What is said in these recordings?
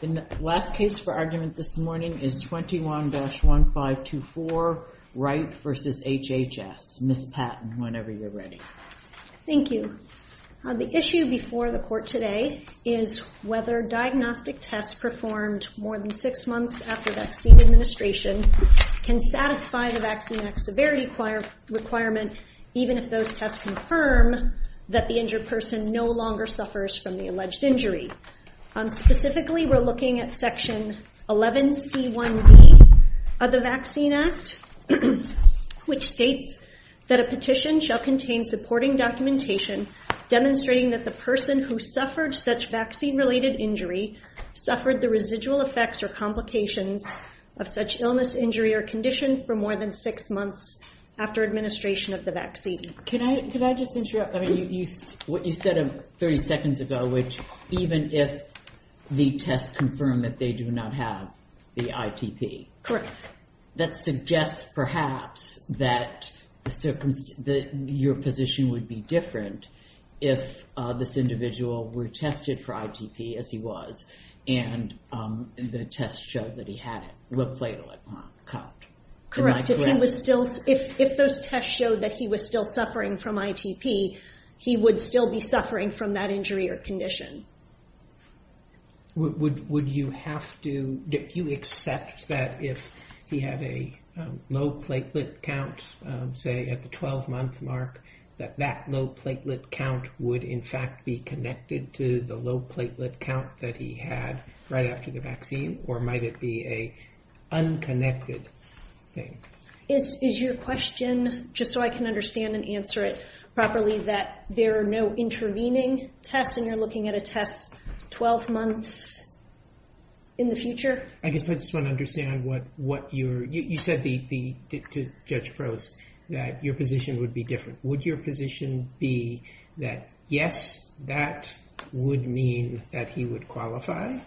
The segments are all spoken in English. The last case for argument this morning is 21-1524 Wright v. HHS. Ms. Patton, whenever you're ready. Thank you. The issue before the court today is whether diagnostic tests performed more than six months after vaccine administration can satisfy the Vaccine Act severity requirement even if those tests confirm that the injured person no longer suffers from the alleged injury. Specifically, we're looking at Section 11C1D of the Vaccine Act, which states that a petition shall contain supporting documentation demonstrating that the person who suffered such vaccine-related injury suffered the residual effects or complications of such illness, injury, or condition for more than six months after administration of the vaccine. Can I just interrupt? You said 30 seconds ago, which even if the tests confirm that they do not have the ITP. Correct. That suggests perhaps that your position would be different if this individual were tested for ITP, as he was, and the tests showed that he had a low platelet count. Correct. If those tests showed that he was still suffering from ITP, he would still be suffering from that injury or condition. Would you accept that if he had a low platelet count, say at the 12-month mark, that that low platelet count would in fact be connected to the low platelet count that he had right after the vaccine, or might it be an unconnected thing? Is your question, just so I can understand and answer it properly, that there are no intervening tests and you're looking at a test 12 months in the future? I guess I just want to understand what you're, you said to Judge Prost that your position would be different. Would your position be that yes, that would mean that he would qualify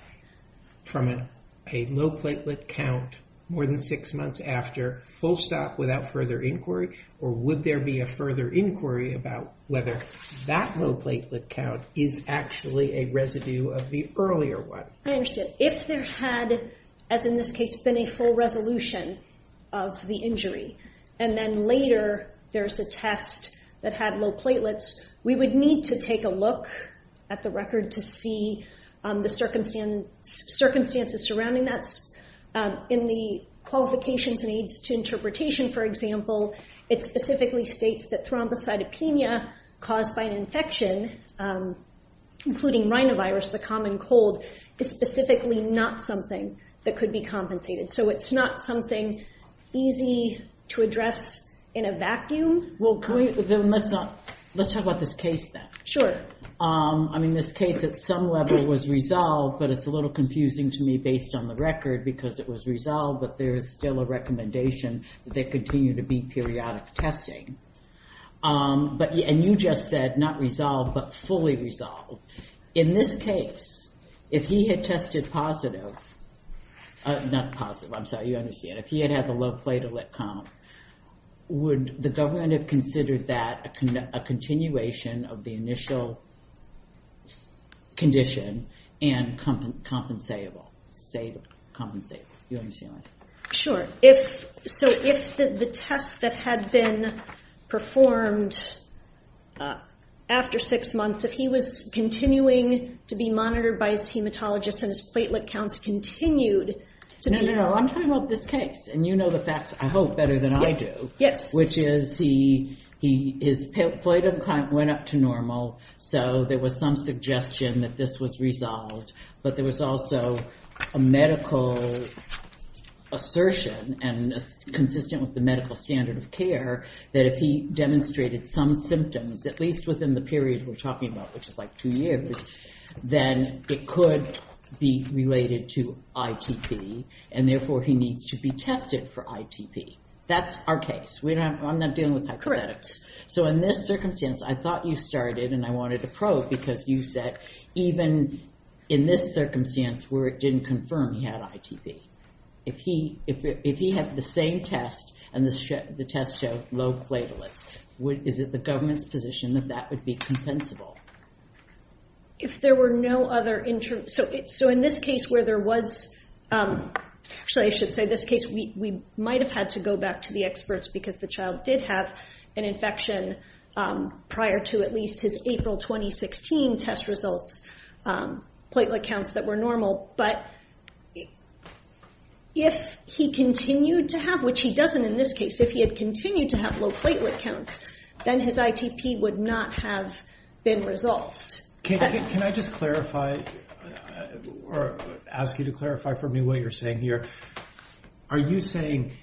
from a low platelet count more than six months after, full stop, without further inquiry? Or would there be a further inquiry about whether that low platelet count is actually a residue of the earlier one? I understand. If there had, as in this case, been a full resolution of the injury, and then later there's a test that had low platelets, we would need to take a look at the record to see the circumstances surrounding that. In the qualifications and aids to interpretation, for example, it specifically states that thrombocytopenia caused by an infection, including rhinovirus, the common cold, is specifically not something that could be compensated. So it's not something easy to address in a vacuum. Let's talk about this case then. Sure. I mean, this case at some level was resolved, but it's a little confusing to me based on the record because it was resolved, but there is still a recommendation that there continue to be periodic testing. And you just said, not resolved, but fully resolved. In this case, if he had tested positive, not positive, I'm sorry, you understand. If he had had the low platelet count, would the government have considered that a continuation of the initial condition and compensable? You understand what I'm saying? Sure. So if the test that had been performed after six months, if he was continuing to be monitored by his hematologist and his platelet counts continued to be- No, no, no. I'm talking about this case. And you know the facts, I hope, better than I do. Yes. Which is his platelet count went up to normal, so there was some suggestion that this was resolved. But there was also a medical assertion, and consistent with the medical standard of care, that if he demonstrated some symptoms, at least within the period we're talking about, which is like two years, then it could be related to ITP, and therefore he needs to be tested for ITP. That's our case. Correct. So in this circumstance, I thought you started, and I wanted to probe, because you said even in this circumstance where it didn't confirm he had ITP, if he had the same test and the test showed low platelets, is it the government's position that that would be compensable? If there were no other- So in this case where there was- prior to at least his April 2016 test results, platelet counts that were normal, but if he continued to have, which he doesn't in this case, if he had continued to have low platelet counts, then his ITP would not have been resolved. Can I just clarify, or ask you to clarify for me what you're saying here? Are you saying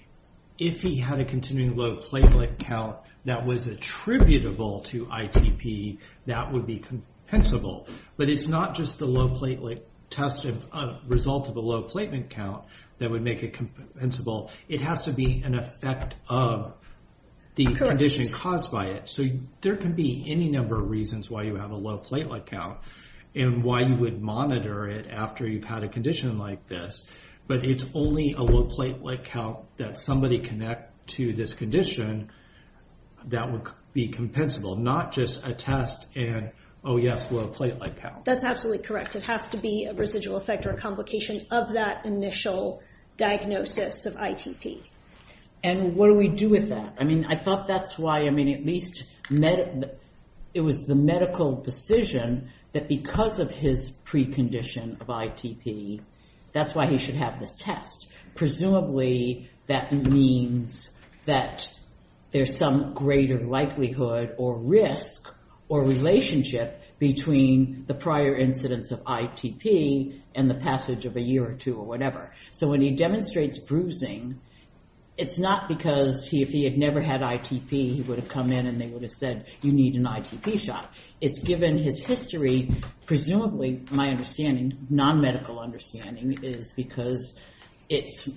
if he had a continuing low platelet count that was attributable to ITP, that would be compensable? But it's not just the low platelet test result of a low platelet count that would make it compensable. It has to be an effect of the condition caused by it. So there can be any number of reasons why you have a low platelet count and why you would monitor it after you've had a condition like this, but it's only a low platelet count that somebody can add to this condition that would be compensable, not just a test and, oh yes, low platelet count. That's absolutely correct. It has to be a residual effect or a complication of that initial diagnosis of ITP. And what do we do with that? I mean, I thought that's why, I mean, at least it was the medical decision that because of his precondition of ITP, that's why he should have this test. Presumably that means that there's some greater likelihood or risk or relationship between the prior incidence of ITP and the passage of a year or two or whatever. So when he demonstrates bruising, it's not because if he had never had ITP, he would have come in and they would have said, you need an ITP shot. It's given his history. Presumably my understanding, non-medical understanding, is because it's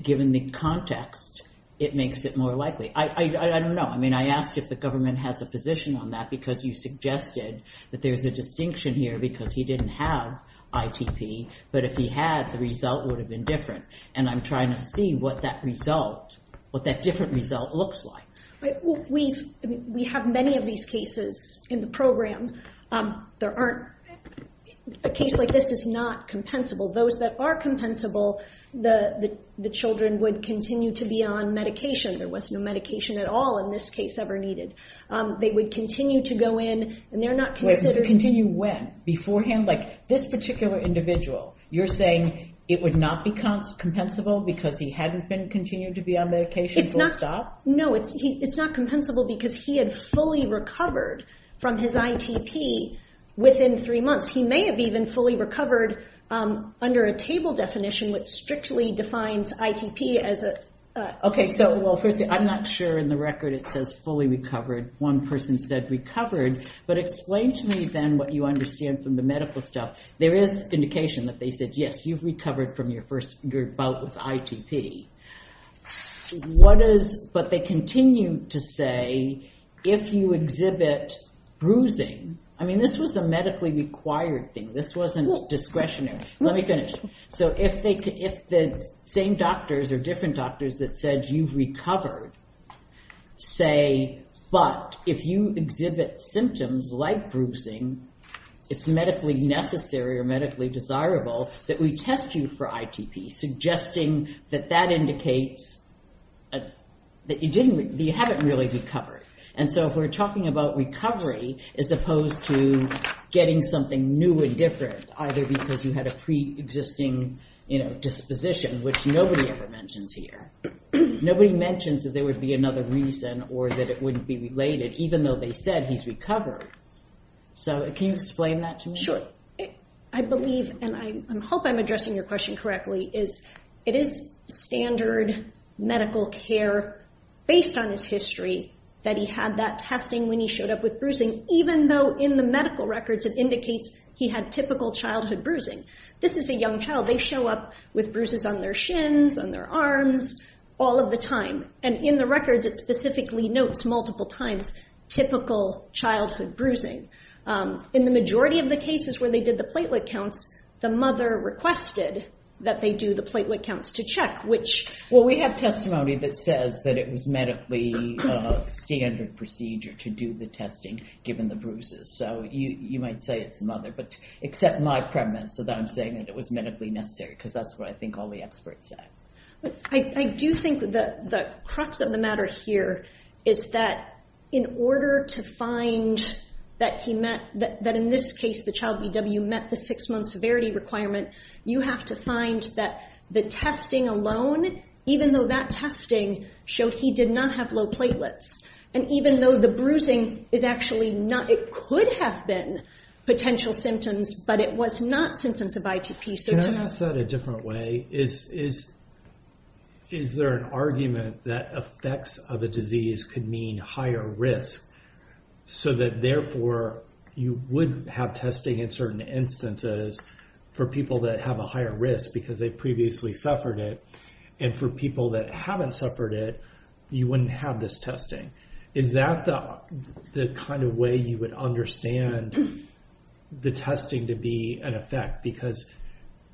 given the context, it makes it more likely. I don't know. I mean, I asked if the government has a position on that because you suggested that there's a distinction here because he didn't have ITP, but if he had, the result would have been different. And I'm trying to see what that result, what that different result looks like. We have many of these cases in the program. A case like this is not compensable. Those that are compensable, the children would continue to be on medication. There was no medication at all in this case ever needed. They would continue to go in and they're not considered. Continue when? Beforehand? Like this particular individual, you're saying it would not be compensable because he hadn't continued to be on medication full stop? No. It's not compensable because he had fully recovered from his ITP within three months. He may have even fully recovered under a table definition which strictly defines ITP as a. Okay. So, well, first, I'm not sure in the record it says fully recovered. One person said recovered. But explain to me then what you understand from the medical stuff. There is indication that they said, yes, you've recovered from your first bout with ITP. But they continue to say if you exhibit bruising, I mean this was a medically required thing. This wasn't discretionary. Let me finish. So if the same doctors or different doctors that said you've recovered say, but if you exhibit symptoms like bruising, it's medically necessary or medically desirable that we test you for ITP, suggesting that that indicates that you haven't really recovered. And so if we're talking about recovery as opposed to getting something new and different, either because you had a preexisting disposition, which nobody ever mentions here, nobody mentions that there would be another reason or that it wouldn't be related even though they said he's recovered. So can you explain that to me? Sure. I believe, and I hope I'm addressing your question correctly, is it is standard medical care based on his history that he had that testing when he showed up with bruising, even though in the medical records it indicates he had typical childhood bruising. This is a young child. They show up with bruises on their shins, on their arms all of the time. And in the records it specifically notes multiple times typical childhood bruising. In the majority of the cases where they did the platelet counts, the mother requested that they do the platelet counts to check. Well, we have testimony that says that it was medically standard procedure to do the testing given the bruises. So you might say it's the mother, but except my premise that I'm saying that it was medically necessary, because that's what I think all the experts say. I do think that the crux of the matter here is that in order to find that in this case the child BW met the six-month severity requirement, you have to find that the testing alone, even though that testing showed he did not have low platelets, and even though the bruising is actually not, it could have been potential symptoms, but it was not symptoms of ITP. Can I ask that a different way? Is there an argument that effects of a disease could mean higher risk, so that therefore you would have testing in certain instances for people that have a higher risk because they've previously suffered it, and for people that haven't suffered it, you wouldn't have this testing. Is that the kind of way you would understand the testing to be an effect? Because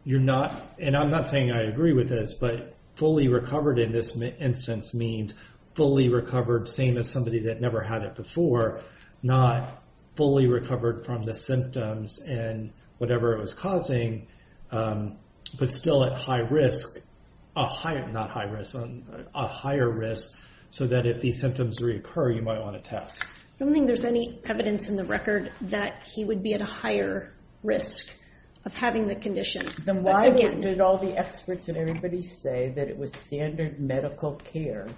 you're not, and I'm not saying I agree with this, but fully recovered in this instance means fully recovered, same as somebody that never had it before, not fully recovered from the symptoms and whatever it was causing, but still at higher risk so that if these symptoms reoccur, you might want to test. I don't think there's any evidence in the record that he would be at a higher risk of having the condition. Then why did all the experts and everybody say that it was standard medical care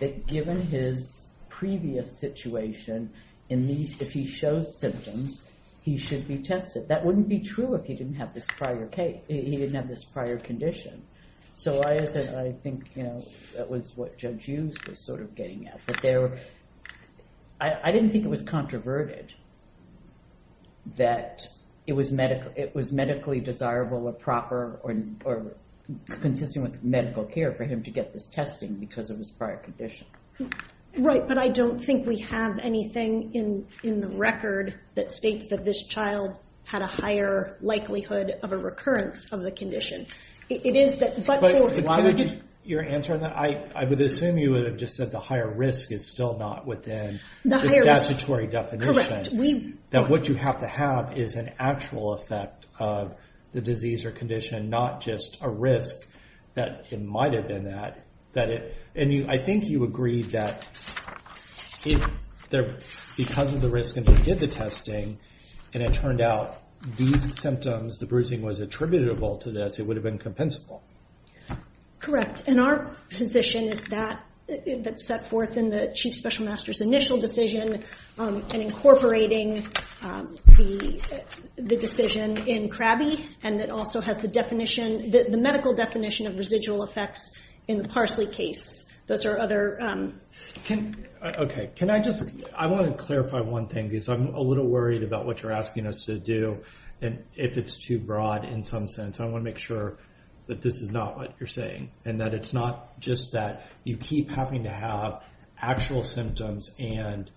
that given his previous situation, if he shows symptoms, he should be tested? That wouldn't be true if he didn't have this prior condition. So I think that was what Judge Hughes was sort of getting at. I didn't think it was controverted that it was medically desirable or proper or consistent with medical care for him to get this testing because of his prior condition. Right, but I don't think we have anything in the record that states that this child had a higher likelihood of a recurrence of the condition. Why would you answer that? I would assume you would have just said the higher risk is still not within the statutory definition. That what you have to have is an actual effect of the disease or condition, not just a risk that it might have been at. I think you agreed that because of the risk and they did the testing and it turned out these symptoms, the bruising was attributable to this, it would have been compensable. Correct, and our position is that it's set forth in the Chief Special Master's initial decision and incorporating the decision in CRABI and it also has the medical definition of residual effects in the Parsley case. Those are other... Okay, can I just, I want to clarify one thing because I'm a little worried about what you're asking us to do and if it's too broad in some sense. I want to make sure that this is not what you're saying and that it's not just that you keep having to have actual symptoms and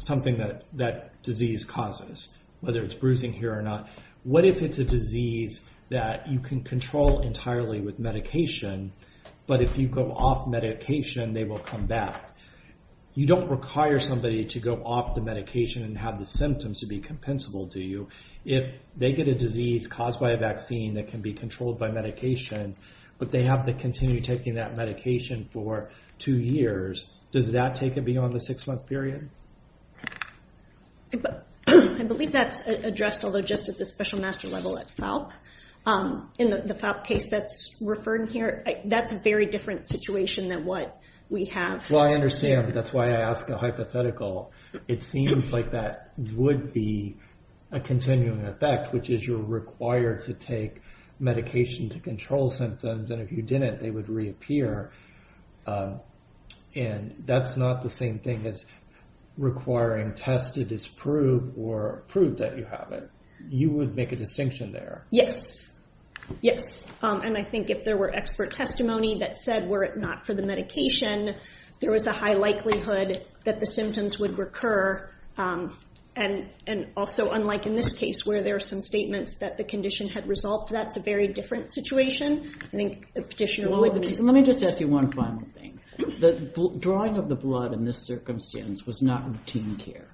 something that disease causes, whether it's bruising here or not. What if it's a disease that you can control entirely with medication, but if you go off medication they will come back? You don't require somebody to go off the medication and have the symptoms to be compensable, do you? If they get a disease caused by a vaccine that can be controlled by medication but they have to continue taking that medication for two years, does that take it beyond the six-month period? I believe that's addressed, although just at the special master level at FALP. In the FALP case that's referred here, that's a very different situation than what we have. Well, I understand, but that's why I ask a hypothetical. It seems like that would be a continuing effect, which is you're required to take medication to control symptoms, and if you didn't they would reappear. That's not the same thing as requiring test to disprove or prove that you have it. You would make a distinction there. Yes. I think if there were expert testimony that said were it not for the medication, there was a high likelihood that the symptoms would recur. Also, unlike in this case where there are some statements that the condition had resolved, that's a very different situation. Let me just ask you one final thing. The drawing of the blood in this circumstance was not routine care.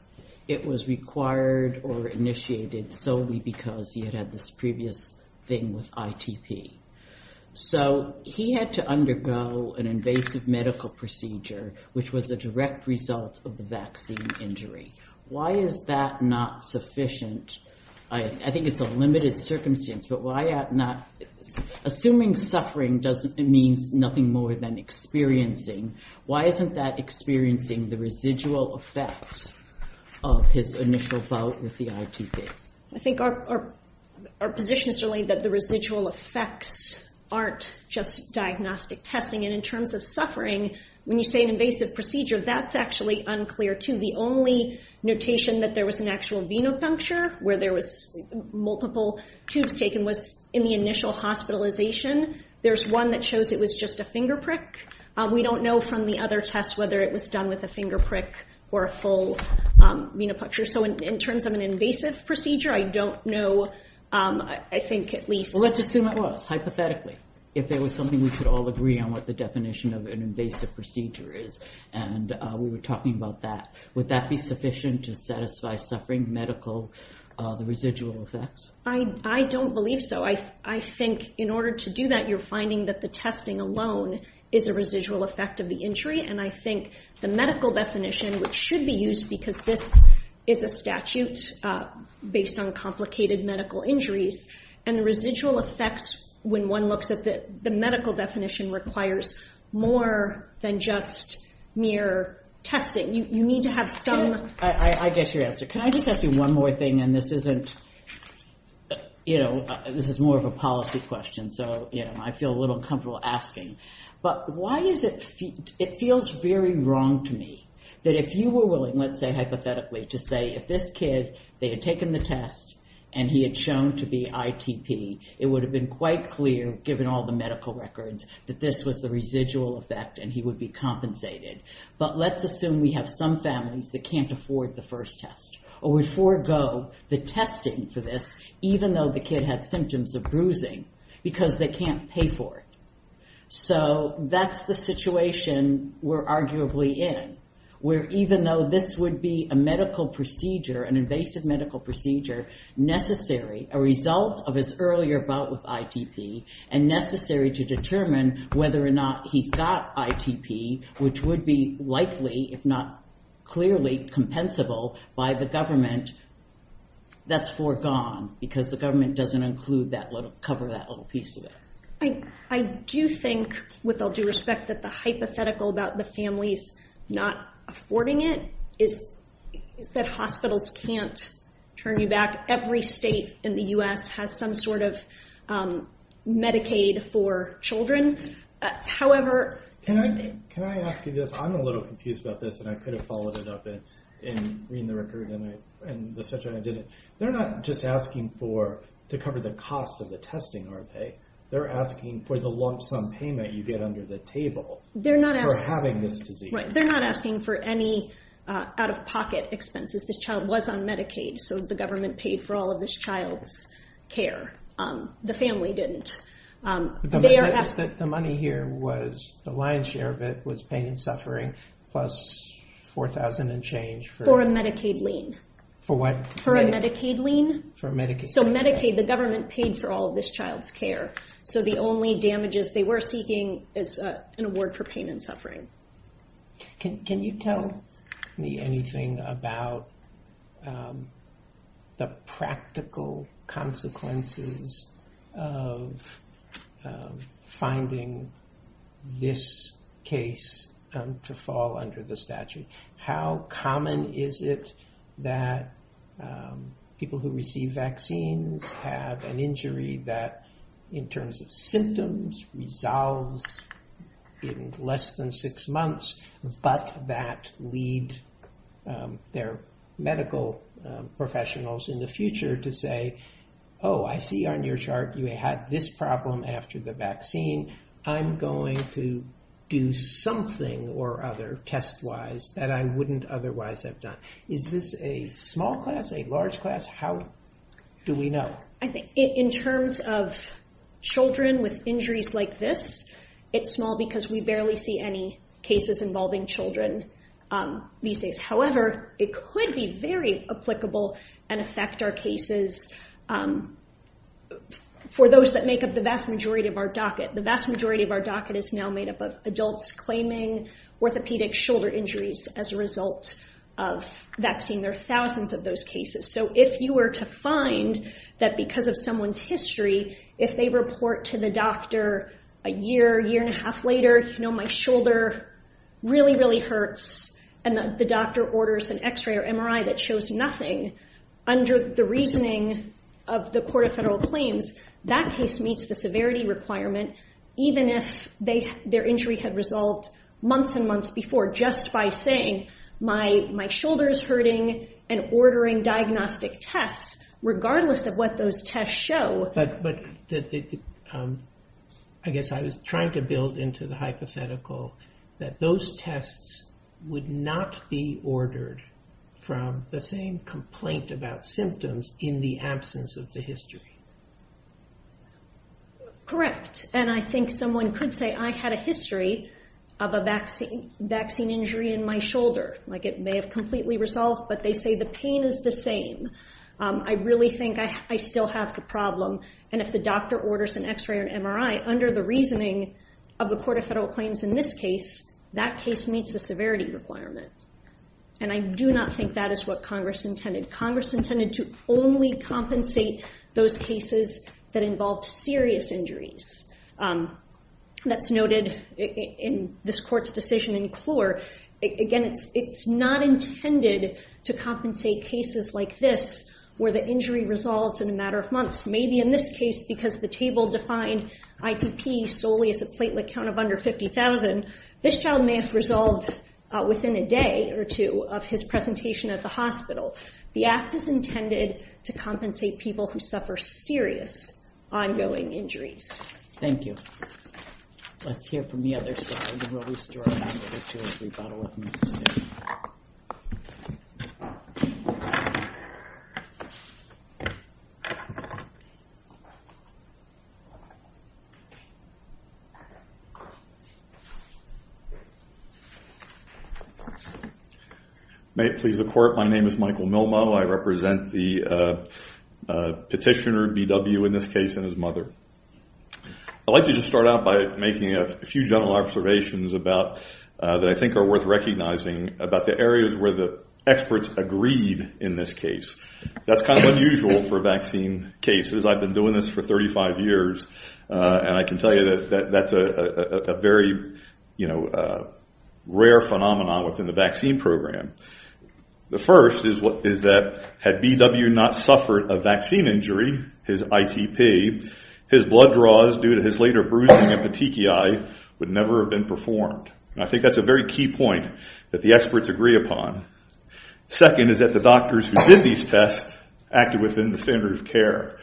It was required or initiated solely because he had had this previous thing with ITP. So he had to undergo an invasive medical procedure, which was the direct result of the vaccine injury. Why is that not sufficient? I think it's a limited circumstance, but assuming suffering means nothing more than experiencing, why isn't that experiencing the residual effects of his initial bout with the ITP? I think our position is really that the residual effects aren't just diagnostic testing, and in terms of suffering, when you say an invasive procedure, that's actually unclear too. The only notation that there was an actual venipuncture, where there was multiple tubes taken, was in the initial hospitalization. There's one that shows it was just a finger prick. We don't know from the other tests whether it was done with a finger prick or a full venipuncture. So in terms of an invasive procedure, I don't know. Let's assume it was, hypothetically, if there was something we could all agree on what the definition of an invasive procedure is. We were talking about that. Would that be sufficient to satisfy suffering medical residual effects? I don't believe so. I think in order to do that, you're finding that the testing alone is a residual effect of the injury, and I think the medical definition, which should be used because this is a statute based on complicated medical injuries, and the residual effects, when one looks at the medical definition, requires more than just mere testing. You need to have some... I get your answer. Can I just ask you one more thing, and this is more of a policy question, so I feel a little uncomfortable asking, but it feels very wrong to me that if you were willing, let's say hypothetically, to say if this kid, they had taken the test and he had shown to be ITP, it would have been quite clear, given all the medical records, that this was the residual effect and he would be compensated. But let's assume we have some families that can't afford the first test or would forego the testing for this, even though the kid had symptoms of bruising, because they can't pay for it. So that's the situation we're arguably in, where even though this would be a medical procedure, an invasive medical procedure, necessary, a result of his earlier bout with ITP, and necessary to determine whether or not he's got ITP, which would be likely, if not clearly, compensable by the government, that's foregone because the government doesn't cover that little piece of it. I do think, with all due respect, that the hypothetical about the families not affording it is that hospitals can't turn you back. Every state in the U.S. has some sort of Medicaid for children. However... Can I ask you this? I'm a little confused about this, and I could have followed it up in reading the record and the section I didn't. They're not just asking to cover the cost of the testing, are they? They're asking for the lump sum payment you get under the table for having this disease. They're not asking for any out-of-pocket expenses. This child was on Medicaid, so the government paid for all of this child's care. The family didn't. The money here, the lion's share of it, was pain and suffering, plus $4,000 and change for... For a Medicaid lien. For what? For a Medicaid lien. For Medicaid. So Medicaid, the government paid for all of this child's care. So the only damages they were seeking is an award for pain and suffering. Can you tell me anything about the practical consequences of finding this case to fall under the statute? How common is it that people who receive vaccines have an injury that, in terms of symptoms, resolves in less than six months, but that lead their medical professionals in the future to say, oh, I see on your chart you had this problem after the vaccine. I'm going to do something or other test-wise that I wouldn't otherwise have done. Is this a small class, a large class? How do we know? In terms of children with injuries like this, it's small because we barely see any cases involving children these days. However, it could be very applicable and affect our cases for those that make up the vast majority of our docket. The vast majority of our docket is now made up of adults claiming orthopedic shoulder injuries as a result of vaccine. There are thousands of those cases. So if you were to find that because of someone's history, if they report to the doctor a year, year and a half later, you know, my shoulder really, really hurts, and the doctor orders an X-ray or MRI that shows nothing, under the reasoning of the Court of Federal Claims, that case meets the severity requirement even if their injury had resolved months and months before just by saying my shoulder is hurting and ordering diagnostic tests regardless of what those tests show. But I guess I was trying to build into the hypothetical that those tests would not be ordered from the same complaint about symptoms in the absence of the history. Correct. And I think someone could say I had a history of a vaccine injury in my shoulder. Like it may have completely resolved, but they say the pain is the same. I really think I still have the problem. And if the doctor orders an X-ray or an MRI, under the reasoning of the Court of Federal Claims in this case, that case meets the severity requirement. And I do not think that is what Congress intended. Congress intended to only compensate those cases that involved serious injuries. That's noted in this Court's decision in Clure. Again, it's not intended to compensate cases like this where the injury resolves in a matter of months. Maybe in this case because the table defined ITP solely as a platelet count of under 50,000, this child may have resolved within a day or two of his presentation at the hospital. The Act is intended to compensate people who suffer serious ongoing injuries. Thank you. Let's hear from the other side, and we'll restore order to a rebuttal. May it please the Court, my name is Michael Milmo. I represent the petitioner, B.W., in this case, and his mother. I'd like to just start out by making a few general observations that I think are worth recognizing about the areas where the experts agreed in this case. That's kind of unusual for vaccine cases. I've been doing this for 35 years, and I can tell you that that's a very rare phenomenon within the vaccine program. The first is that had B.W. not suffered a vaccine injury, his ITP, his blood draws due to his later bruising and petechiae, would never have been performed. And I think that's a very key point that the experts agree upon. Second is that the doctors who did these tests acted within the standard of care.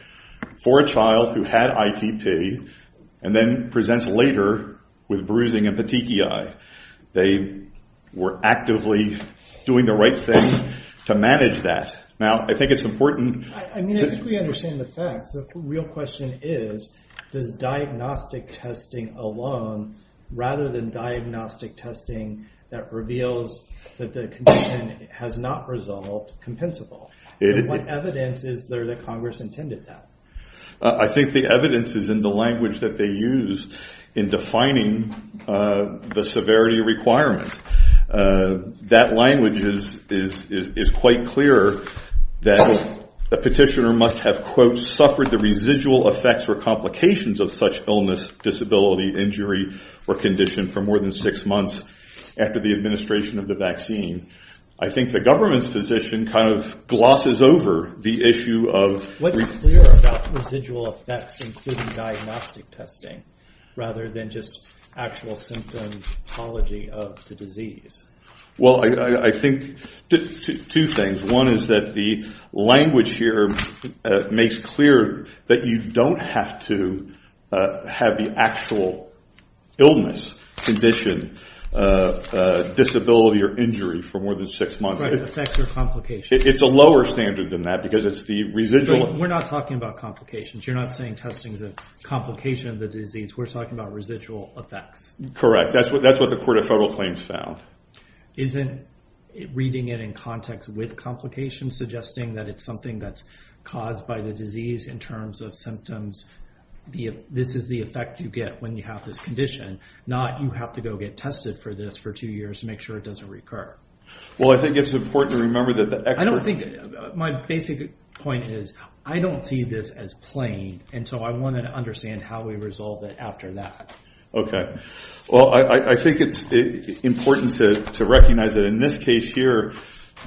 For a child who had ITP and then presents later with bruising and petechiae, they were actively doing the right thing to manage that. Now, I think it's important to... The question is, does diagnostic testing alone, rather than diagnostic testing that reveals that the condition has not resolved, compensable? What evidence is there that Congress intended that? I think the evidence is in the language that they use in defining the severity requirement. That language is quite clear that the petitioner must have, quote, suffered the residual effects or complications of such illness, disability, injury, or condition for more than six months after the administration of the vaccine. I think the government's position kind of glosses over the issue of... What's clear about residual effects, including diagnostic testing, rather than just actual symptomology of the disease. Well, I think two things. One is that the language here makes clear that you don't have to have the actual illness, condition, disability, or injury for more than six months. Right, effects or complications. It's a lower standard than that because it's the residual... We're not talking about complications. You're not saying testing is a complication of the disease. We're talking about residual effects. Correct. That's what the Court of Federal Claims found. Isn't reading it in context with complications suggesting that it's something that's caused by the disease in terms of symptoms, this is the effect you get when you have this condition, not you have to go get tested for this for two years to make sure it doesn't recur? Well, I think it's important to remember that the experts... I think my basic point is I don't see this as plain, and so I wanted to understand how we resolve it after that. Okay. Well, I think it's important to recognize that in this case here,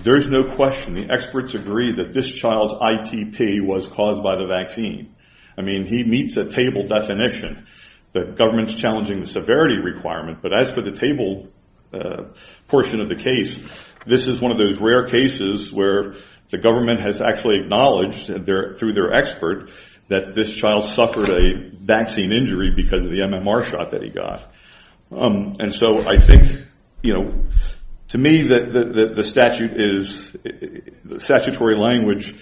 there's no question. The experts agree that this child's ITP was caused by the vaccine. I mean, he meets a table definition. The government's challenging the severity requirement, but as for the table portion of the case, this is one of those rare cases where the government has actually acknowledged through their expert that this child suffered a vaccine injury because of the MMR shot that he got. And so I think, you know, to me the statute is... the statutory language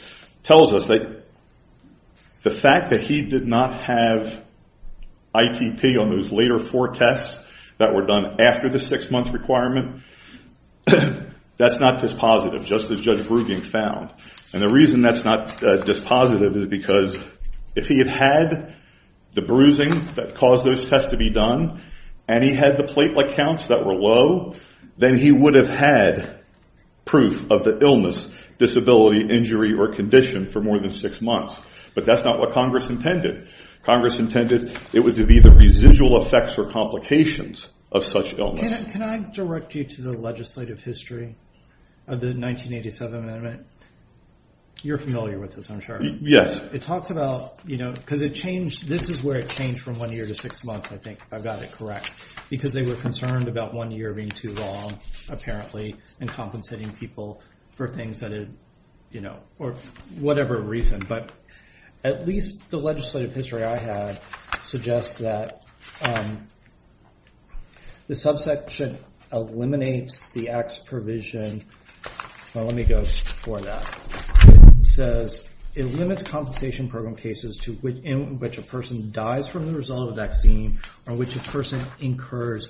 tells us that the fact that he did not have ITP on those later four tests that were done after the six-month requirement, that's not dispositive, just as Judge Bruging found. And the reason that's not dispositive is because if he had had the bruising that caused those tests to be done and he had the platelet counts that were low, then he would have had proof of the illness, disability, injury, or condition for more than six months. But that's not what Congress intended. Congress intended it would be the residual effects or complications of such illness. Can I direct you to the legislative history of the 1987 amendment? You're familiar with this, I'm sure. Yes. It talks about, you know, because it changed. This is where it changed from one year to six months, I think, if I've got it correct, because they were concerned about one year being too long, apparently, and compensating people for things that had, you know, or whatever reason. But at least the legislative history I have suggests that the subsection eliminates the X provision. Let me go for that. It says it limits compensation program cases in which a person dies from the result of a vaccine or which a person incurs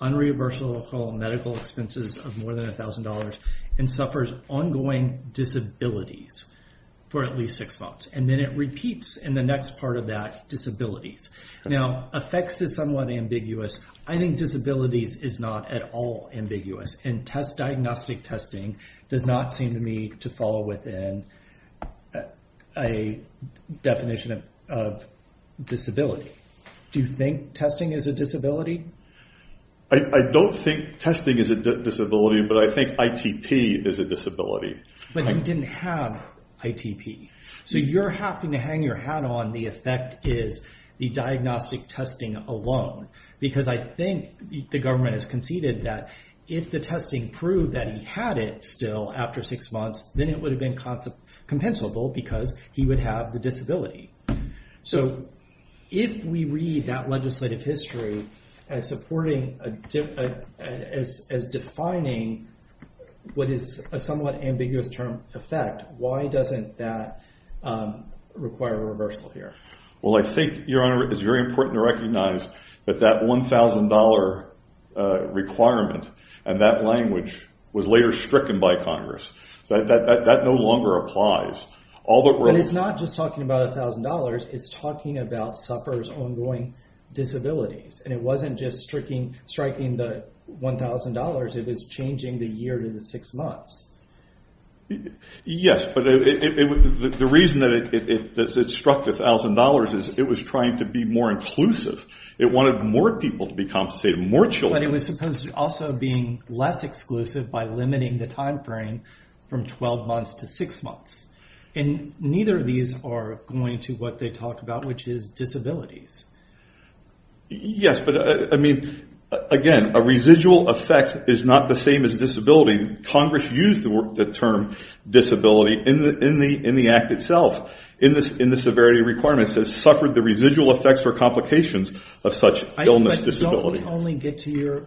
unreversible medical expenses of more than $1,000 and suffers ongoing disabilities for at least six months. And then it repeats in the next part of that disabilities. Now, effects is somewhat ambiguous. I think disabilities is not at all ambiguous. And diagnostic testing does not seem to me to fall within a definition of disability. Do you think testing is a disability? I don't think testing is a disability, but I think ITP is a disability. But he didn't have ITP. So you're having to hang your hat on the effect is the diagnostic testing alone, because I think the government has conceded that if the testing proved that he had it still after six months, then it would have been compensable because he would have the disability. So if we read that legislative history as defining what is a somewhat ambiguous term effect, why doesn't that require a reversal here? Well, I think, Your Honor, it's very important to recognize that that $1,000 requirement and that language was later stricken by Congress. That no longer applies. But it's not just talking about $1,000. It's talking about sufferers' ongoing disabilities. And it wasn't just striking the $1,000. It was changing the year to the six months. Yes, but the reason that it struck the $1,000 is it was trying to be more inclusive. It wanted more people to be compensated, more children. But it was supposed to also be less exclusive by limiting the timeframe from 12 months to six months. And neither of these are going to what they talk about, which is disabilities. Yes, but, I mean, again, a residual effect is not the same as disability. Congress used the term disability in the Act itself in the severity requirements that suffered the residual effects or complications of such illness, disability. I would only get to your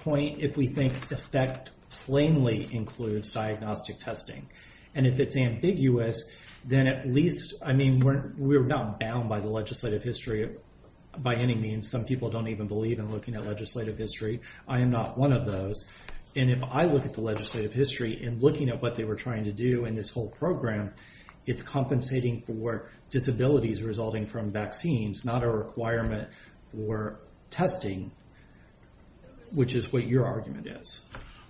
point if we think effect plainly includes diagnostic testing. And if it's ambiguous, then at least, I mean, we're not bound by the legislative history by any means. Some people don't even believe in looking at legislative history. I am not one of those. And if I look at the legislative history and looking at what they were trying to do in this whole program, it's compensating for disabilities resulting from vaccines, not a requirement for testing, which is what your argument is.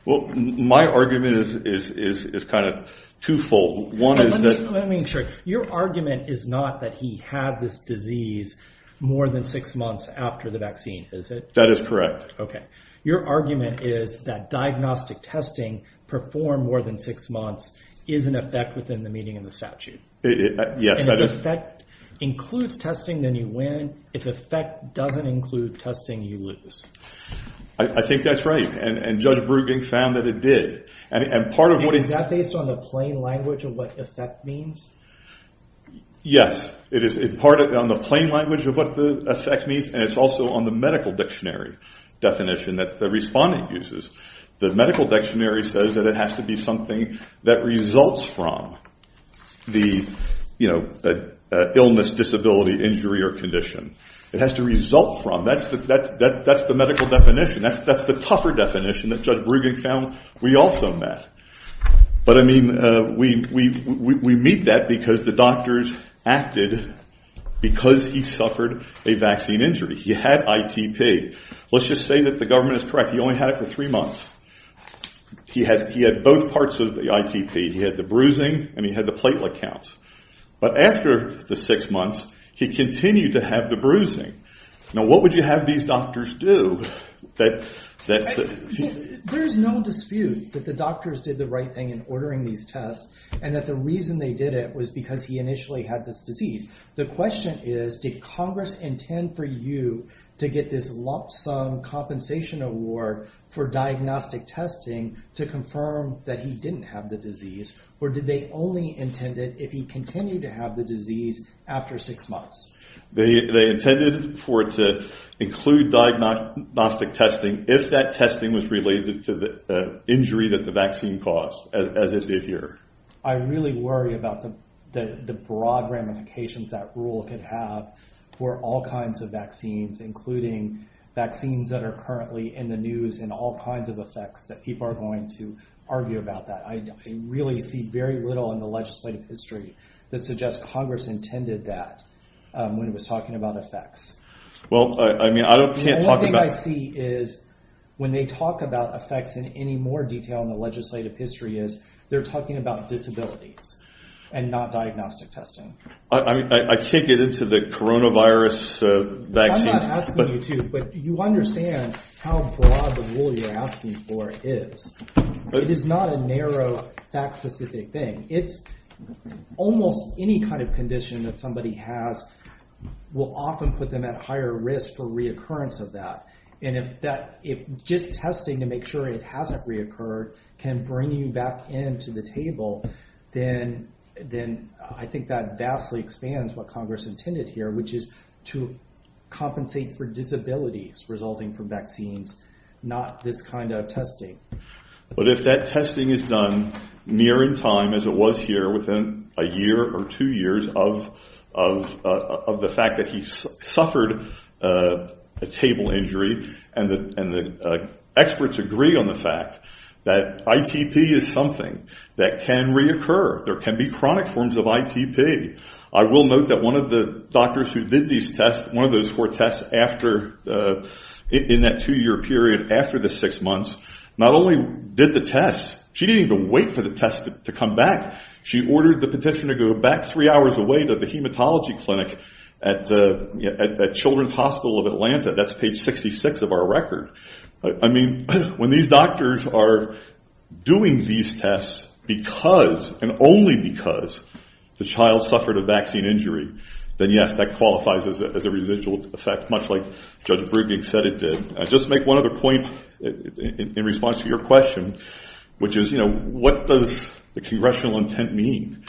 Well, my argument is kind of twofold. Let me make sure. Your argument is not that he had this disease more than six months after the vaccine, is it? That is correct. Okay. Your argument is that diagnostic testing performed more than six months is an effect within the meaning of the statute. Yes, that is. And if effect includes testing, then you win. If effect doesn't include testing, you lose. I think that's right. And Judge Bruegging found that it did. And part of what is— Is that based on the plain language of what effect means? Yes. It is part of the plain language of what the effect means, and it's also on the medical dictionary definition that the respondent uses. The medical dictionary says that it has to be something that results from the illness, disability, injury, or condition. It has to result from. That's the medical definition. That's the tougher definition that Judge Bruegging found we also met. But, I mean, we meet that because the doctors acted because he suffered a vaccine injury. He had ITP. Let's just say that the government is correct. He only had it for three months. He had both parts of the ITP. He had the bruising, and he had the platelet counts. But after the six months, he continued to have the bruising. Now, what would you have these doctors do that— I mean, there is no dispute that the doctors did the right thing in ordering these tests and that the reason they did it was because he initially had this disease. The question is, did Congress intend for you to get this lump sum compensation award for diagnostic testing to confirm that he didn't have the disease, or did they only intend it if he continued to have the disease after six months? They intended for it to include diagnostic testing if that testing was related to the injury that the vaccine caused, as it did here. I really worry about the broad ramifications that rule could have for all kinds of vaccines, including vaccines that are currently in the news and all kinds of effects that people are going to argue about that. I really see very little in the legislative history that suggests Congress intended that when it was talking about effects. Well, I mean, I can't talk about— The only thing I see is when they talk about effects in any more detail in the legislative history is they're talking about disabilities and not diagnostic testing. I mean, I can't get into the coronavirus vaccine— I'm not asking you to, but you understand how broad the rule you're asking for is. It is not a narrow, fact-specific thing. Almost any kind of condition that somebody has will often put them at higher risk for reoccurrence of that. And if just testing to make sure it hasn't reoccurred can bring you back into the table, then I think that vastly expands what Congress intended here, which is to compensate for disabilities resulting from vaccines, not this kind of testing. But if that testing is done near in time, as it was here, within a year or two years of the fact that he suffered a table injury, and the experts agree on the fact that ITP is something that can reoccur. There can be chronic forms of ITP. I will note that one of the doctors who did these tests, one of those four tests in that two-year period after the six months, not only did the tests— She didn't even wait for the tests to come back. She ordered the petitioner to go back three hours away to the hematology clinic at Children's Hospital of Atlanta. That's page 66 of our record. I mean, when these doctors are doing these tests because and only because the child suffered a vaccine injury, then, yes, that qualifies as a residual effect, much like Judge Brugink said it did. I'll just make one other point in response to your question, which is, you know, what does the congressional intent mean?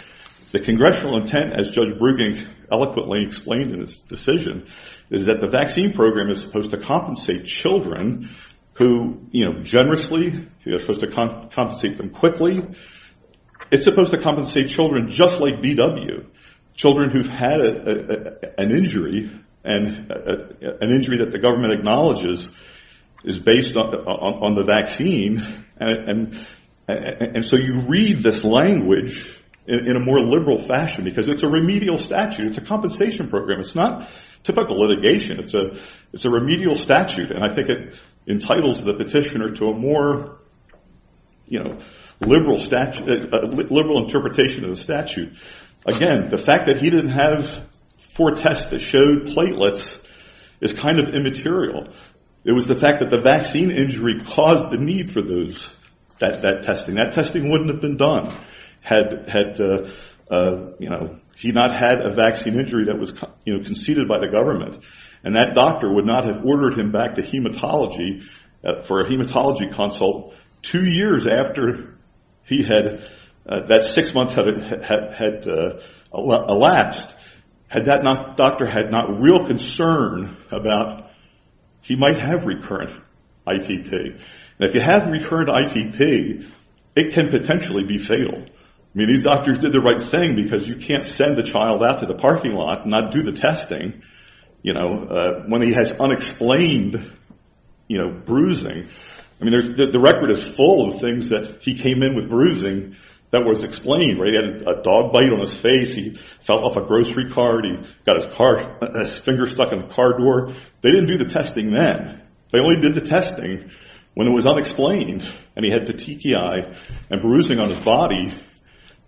The congressional intent, as Judge Brugink eloquently explained in his decision, is that the vaccine program is supposed to compensate children who, you know, generously, it's supposed to compensate them quickly. It's supposed to compensate children just like BW, children who've had an injury and an injury that the government acknowledges is based on the vaccine. And so you read this language in a more liberal fashion because it's a remedial statute. It's a compensation program. It's not typical litigation. It's a remedial statute, and I think it entitles the petitioner to a more, you know, liberal interpretation of the statute. Again, the fact that he didn't have four tests that showed platelets is kind of immaterial. It was the fact that the vaccine injury caused the need for those, that testing. That testing wouldn't have been done had, you know, he not had a vaccine injury that was, you know, conceded by the government, and that doctor would not have ordered him back to hematology for a hematology consult two years after he had, that six months had elapsed. Had that doctor had not real concern about he might have recurrent ITP. And if you have recurrent ITP, it can potentially be fatal. I mean, these doctors did the right thing because you can't send the child out to the parking lot and not do the testing, you know, when he has unexplained, you know, bruising. I mean, the record is full of things that he came in with bruising that was explained, right? He had a dog bite on his face. He fell off a grocery cart. He got his finger stuck in the car door. They didn't do the testing then. They only did the testing when it was unexplained and he had petechiae and bruising on his body.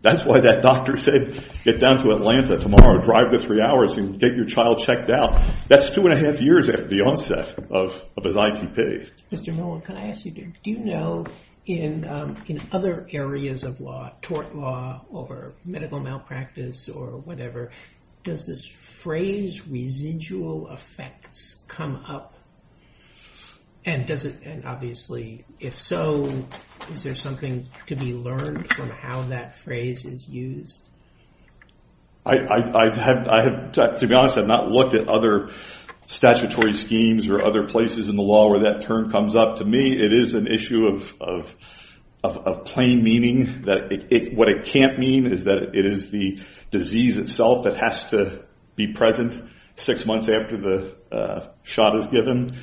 That's why that doctor said, get down to Atlanta tomorrow, drive the three hours and get your child checked out. That's two and a half years after the onset of his ITP. Mr. Mullen, can I ask you, do you know in other areas of law, tort law or medical malpractice or whatever, does this phrase residual effects come up? And does it, and obviously, if so, is there something to be learned from how that phrase is used? To be honest, I've not looked at other statutory schemes or other places in the law where that term comes up. To me, it is an issue of plain meaning. What it can't mean is that it is the disease itself that has to be present six months after the shot is given.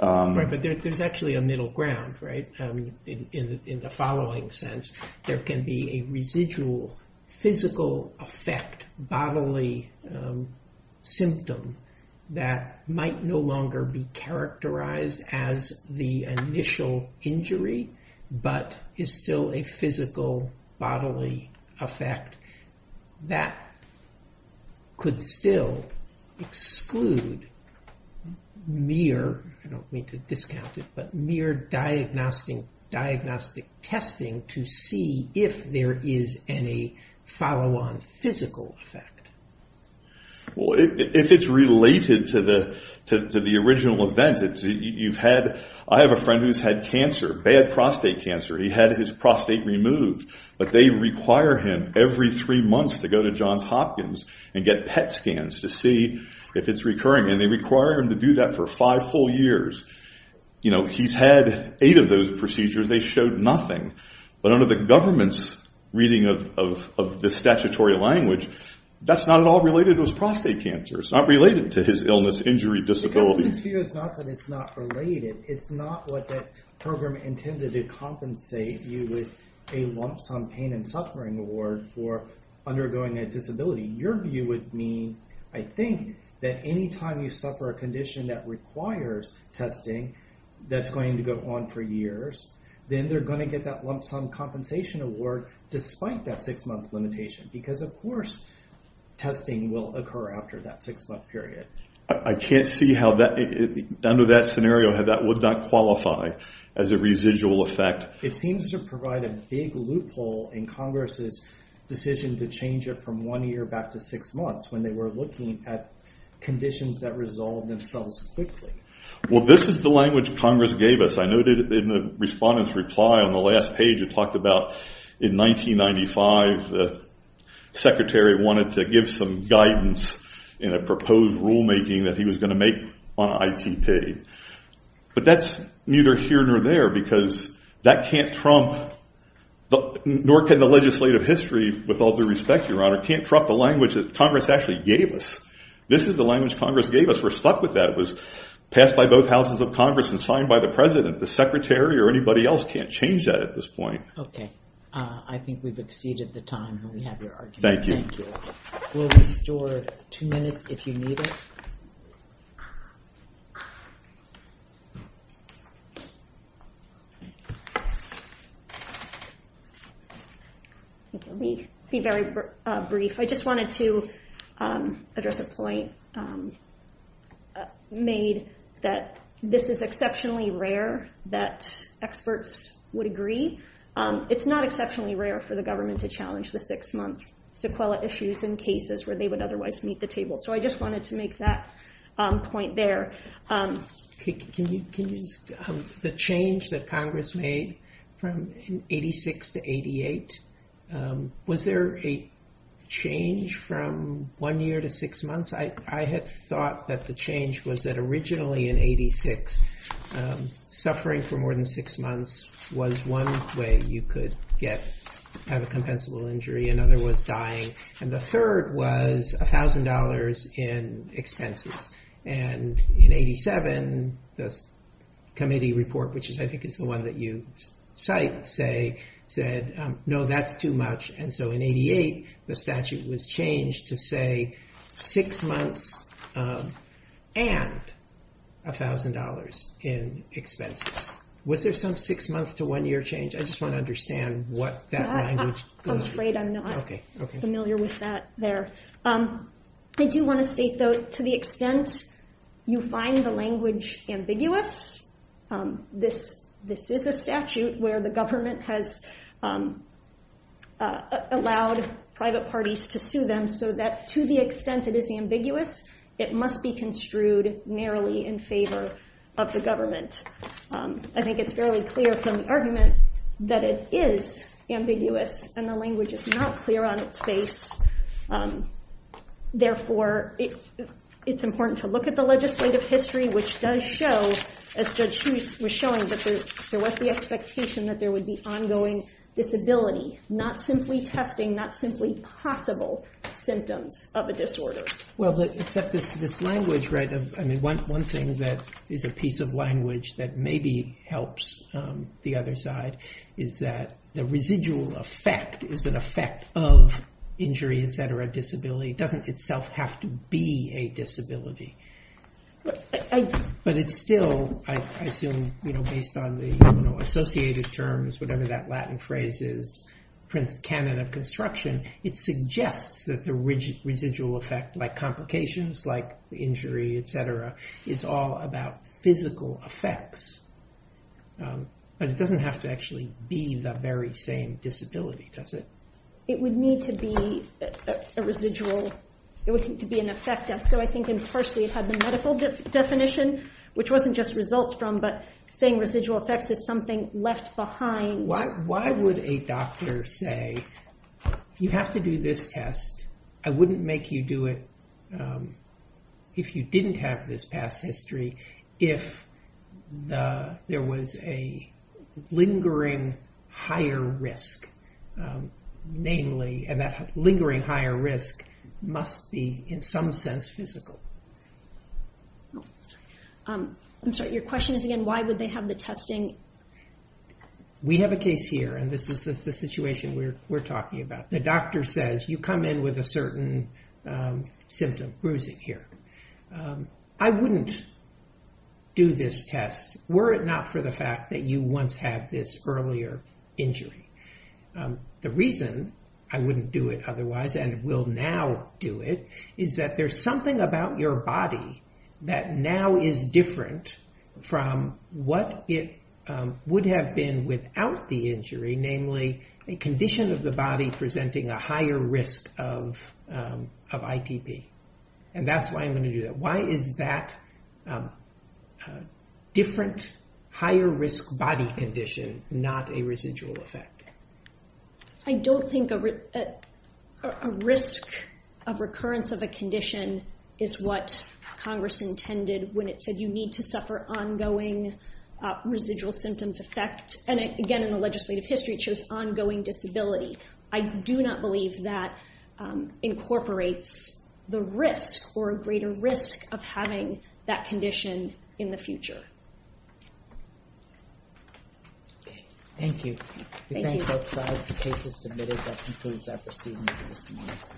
Right, but there's actually a middle ground, right, in the following sense. There can be a residual physical effect, bodily symptom that might no longer be characterized as the initial injury, but is still a physical, bodily effect. That could still exclude mere, I don't mean to discount it, but mere diagnostic testing to see if there is any follow-on physical effect. Well, if it's related to the original event, you've had, I have a friend who's had cancer, bad prostate cancer. He had his prostate removed, but they require him every three months to go to Johns Hopkins and get PET scans to see if it's recurring. And they require him to do that for five full years. You know, he's had eight of those procedures. They showed nothing. But under the government's reading of the statutory language, that's not at all related to his prostate cancer. It's not related to his illness, injury, disability. The government's view is not that it's not related. It's not what the program intended to compensate you with a lump sum pain and suffering award for undergoing a disability. Your view would mean, I think, that any time you suffer a condition that requires testing that's going to go on for years, then they're going to get that lump sum compensation award despite that six-month limitation. Because, of course, testing will occur after that six-month period. I can't see how that, under that scenario, how that would not qualify as a residual effect. It seems to provide a big loophole in Congress's decision to change it from one year back to six months when they were looking at conditions that resolve themselves quickly. Well, this is the language Congress gave us. I noted in the respondent's reply on the last page, it talked about in 1995, the secretary wanted to give some guidance in a proposed rulemaking that he was going to make on ITP. But that's neither here nor there because that can't trump, nor can the legislative history, with all due respect, Your Honor, can't trump the language that Congress actually gave us. This is the language Congress gave us. We're stuck with that. That was passed by both houses of Congress and signed by the president. The secretary or anybody else can't change that at this point. Okay. I think we've exceeded the time, and we have your argument. Thank you. Thank you. We'll restore two minutes if you need it. Let me be very brief. I just wanted to address a point made that this is exceptionally rare that experts would agree. It's not exceptionally rare for the government to challenge the six-month sequela issues in cases where they would otherwise meet the table. So I just wanted to make that point there. The change that Congress made from 86 to 88, was there a change from one year to six months? I had thought that the change was that originally in 86, suffering for more than six months was one way you could have a compensable injury, another was dying, and the third was $1,000 in expenses. And in 87, the committee report, which I think is the one that you cite, said, no, that's too much. And so in 88, the statute was changed to say six months and $1,000 in expenses. Was there some six-month to one-year change? I just want to understand what that language goes through. I'm afraid I'm not familiar with that there. I do want to state, though, to the extent you find the language ambiguous, this is a statute where the government has allowed private parties to sue them so that to the extent it is ambiguous, it must be construed narrowly in favor of the government. I think it's fairly clear from the argument that it is ambiguous and the language is not clear on its face. Therefore, it's important to look at the legislative history, which does show, as Judge Huth was showing, that there was the expectation that there would be ongoing disability, not simply testing, not simply possible symptoms of a disorder. Well, except this language, right? I mean, one thing that is a piece of language that maybe helps the other side is that the residual effect is an effect of injury, et cetera, disability. It doesn't itself have to be a disability. But it's still, I assume, based on the associated terms, whatever that Latin phrase is, it suggests that the residual effect, like complications, like injury, et cetera, is all about physical effects. But it doesn't have to actually be the very same disability, does it? It would need to be a residual. It would need to be an effect. So I think impartially it had the medical definition, which wasn't just results from, but saying residual effects is something left behind. Why would a doctor say, you have to do this test, I wouldn't make you do it if you didn't have this past history, if there was a lingering higher risk, namely, and that lingering higher risk must be, in some sense, physical? I'm sorry, your question is again, why would they have the testing? We have a case here, and this is the situation we're talking about. The doctor says, you come in with a certain symptom, bruising here. I wouldn't do this test were it not for the fact that you once had this earlier injury. The reason I wouldn't do it otherwise and will now do it is that there's something about your body that now is different from what it would have been without the injury, namely a condition of the body presenting a higher risk of ITP. And that's why I'm going to do that. Why is that different higher risk body condition not a residual effect? I don't think a risk of recurrence of a condition is what Congress intended when it said you need to suffer ongoing residual symptoms effect. And again, in the legislative history, it shows ongoing disability. I do not believe that incorporates the risk or a greater risk of having that condition in the future. Okay. Thank you. We thank both sides. The case is submitted. That concludes our proceedings for this morning.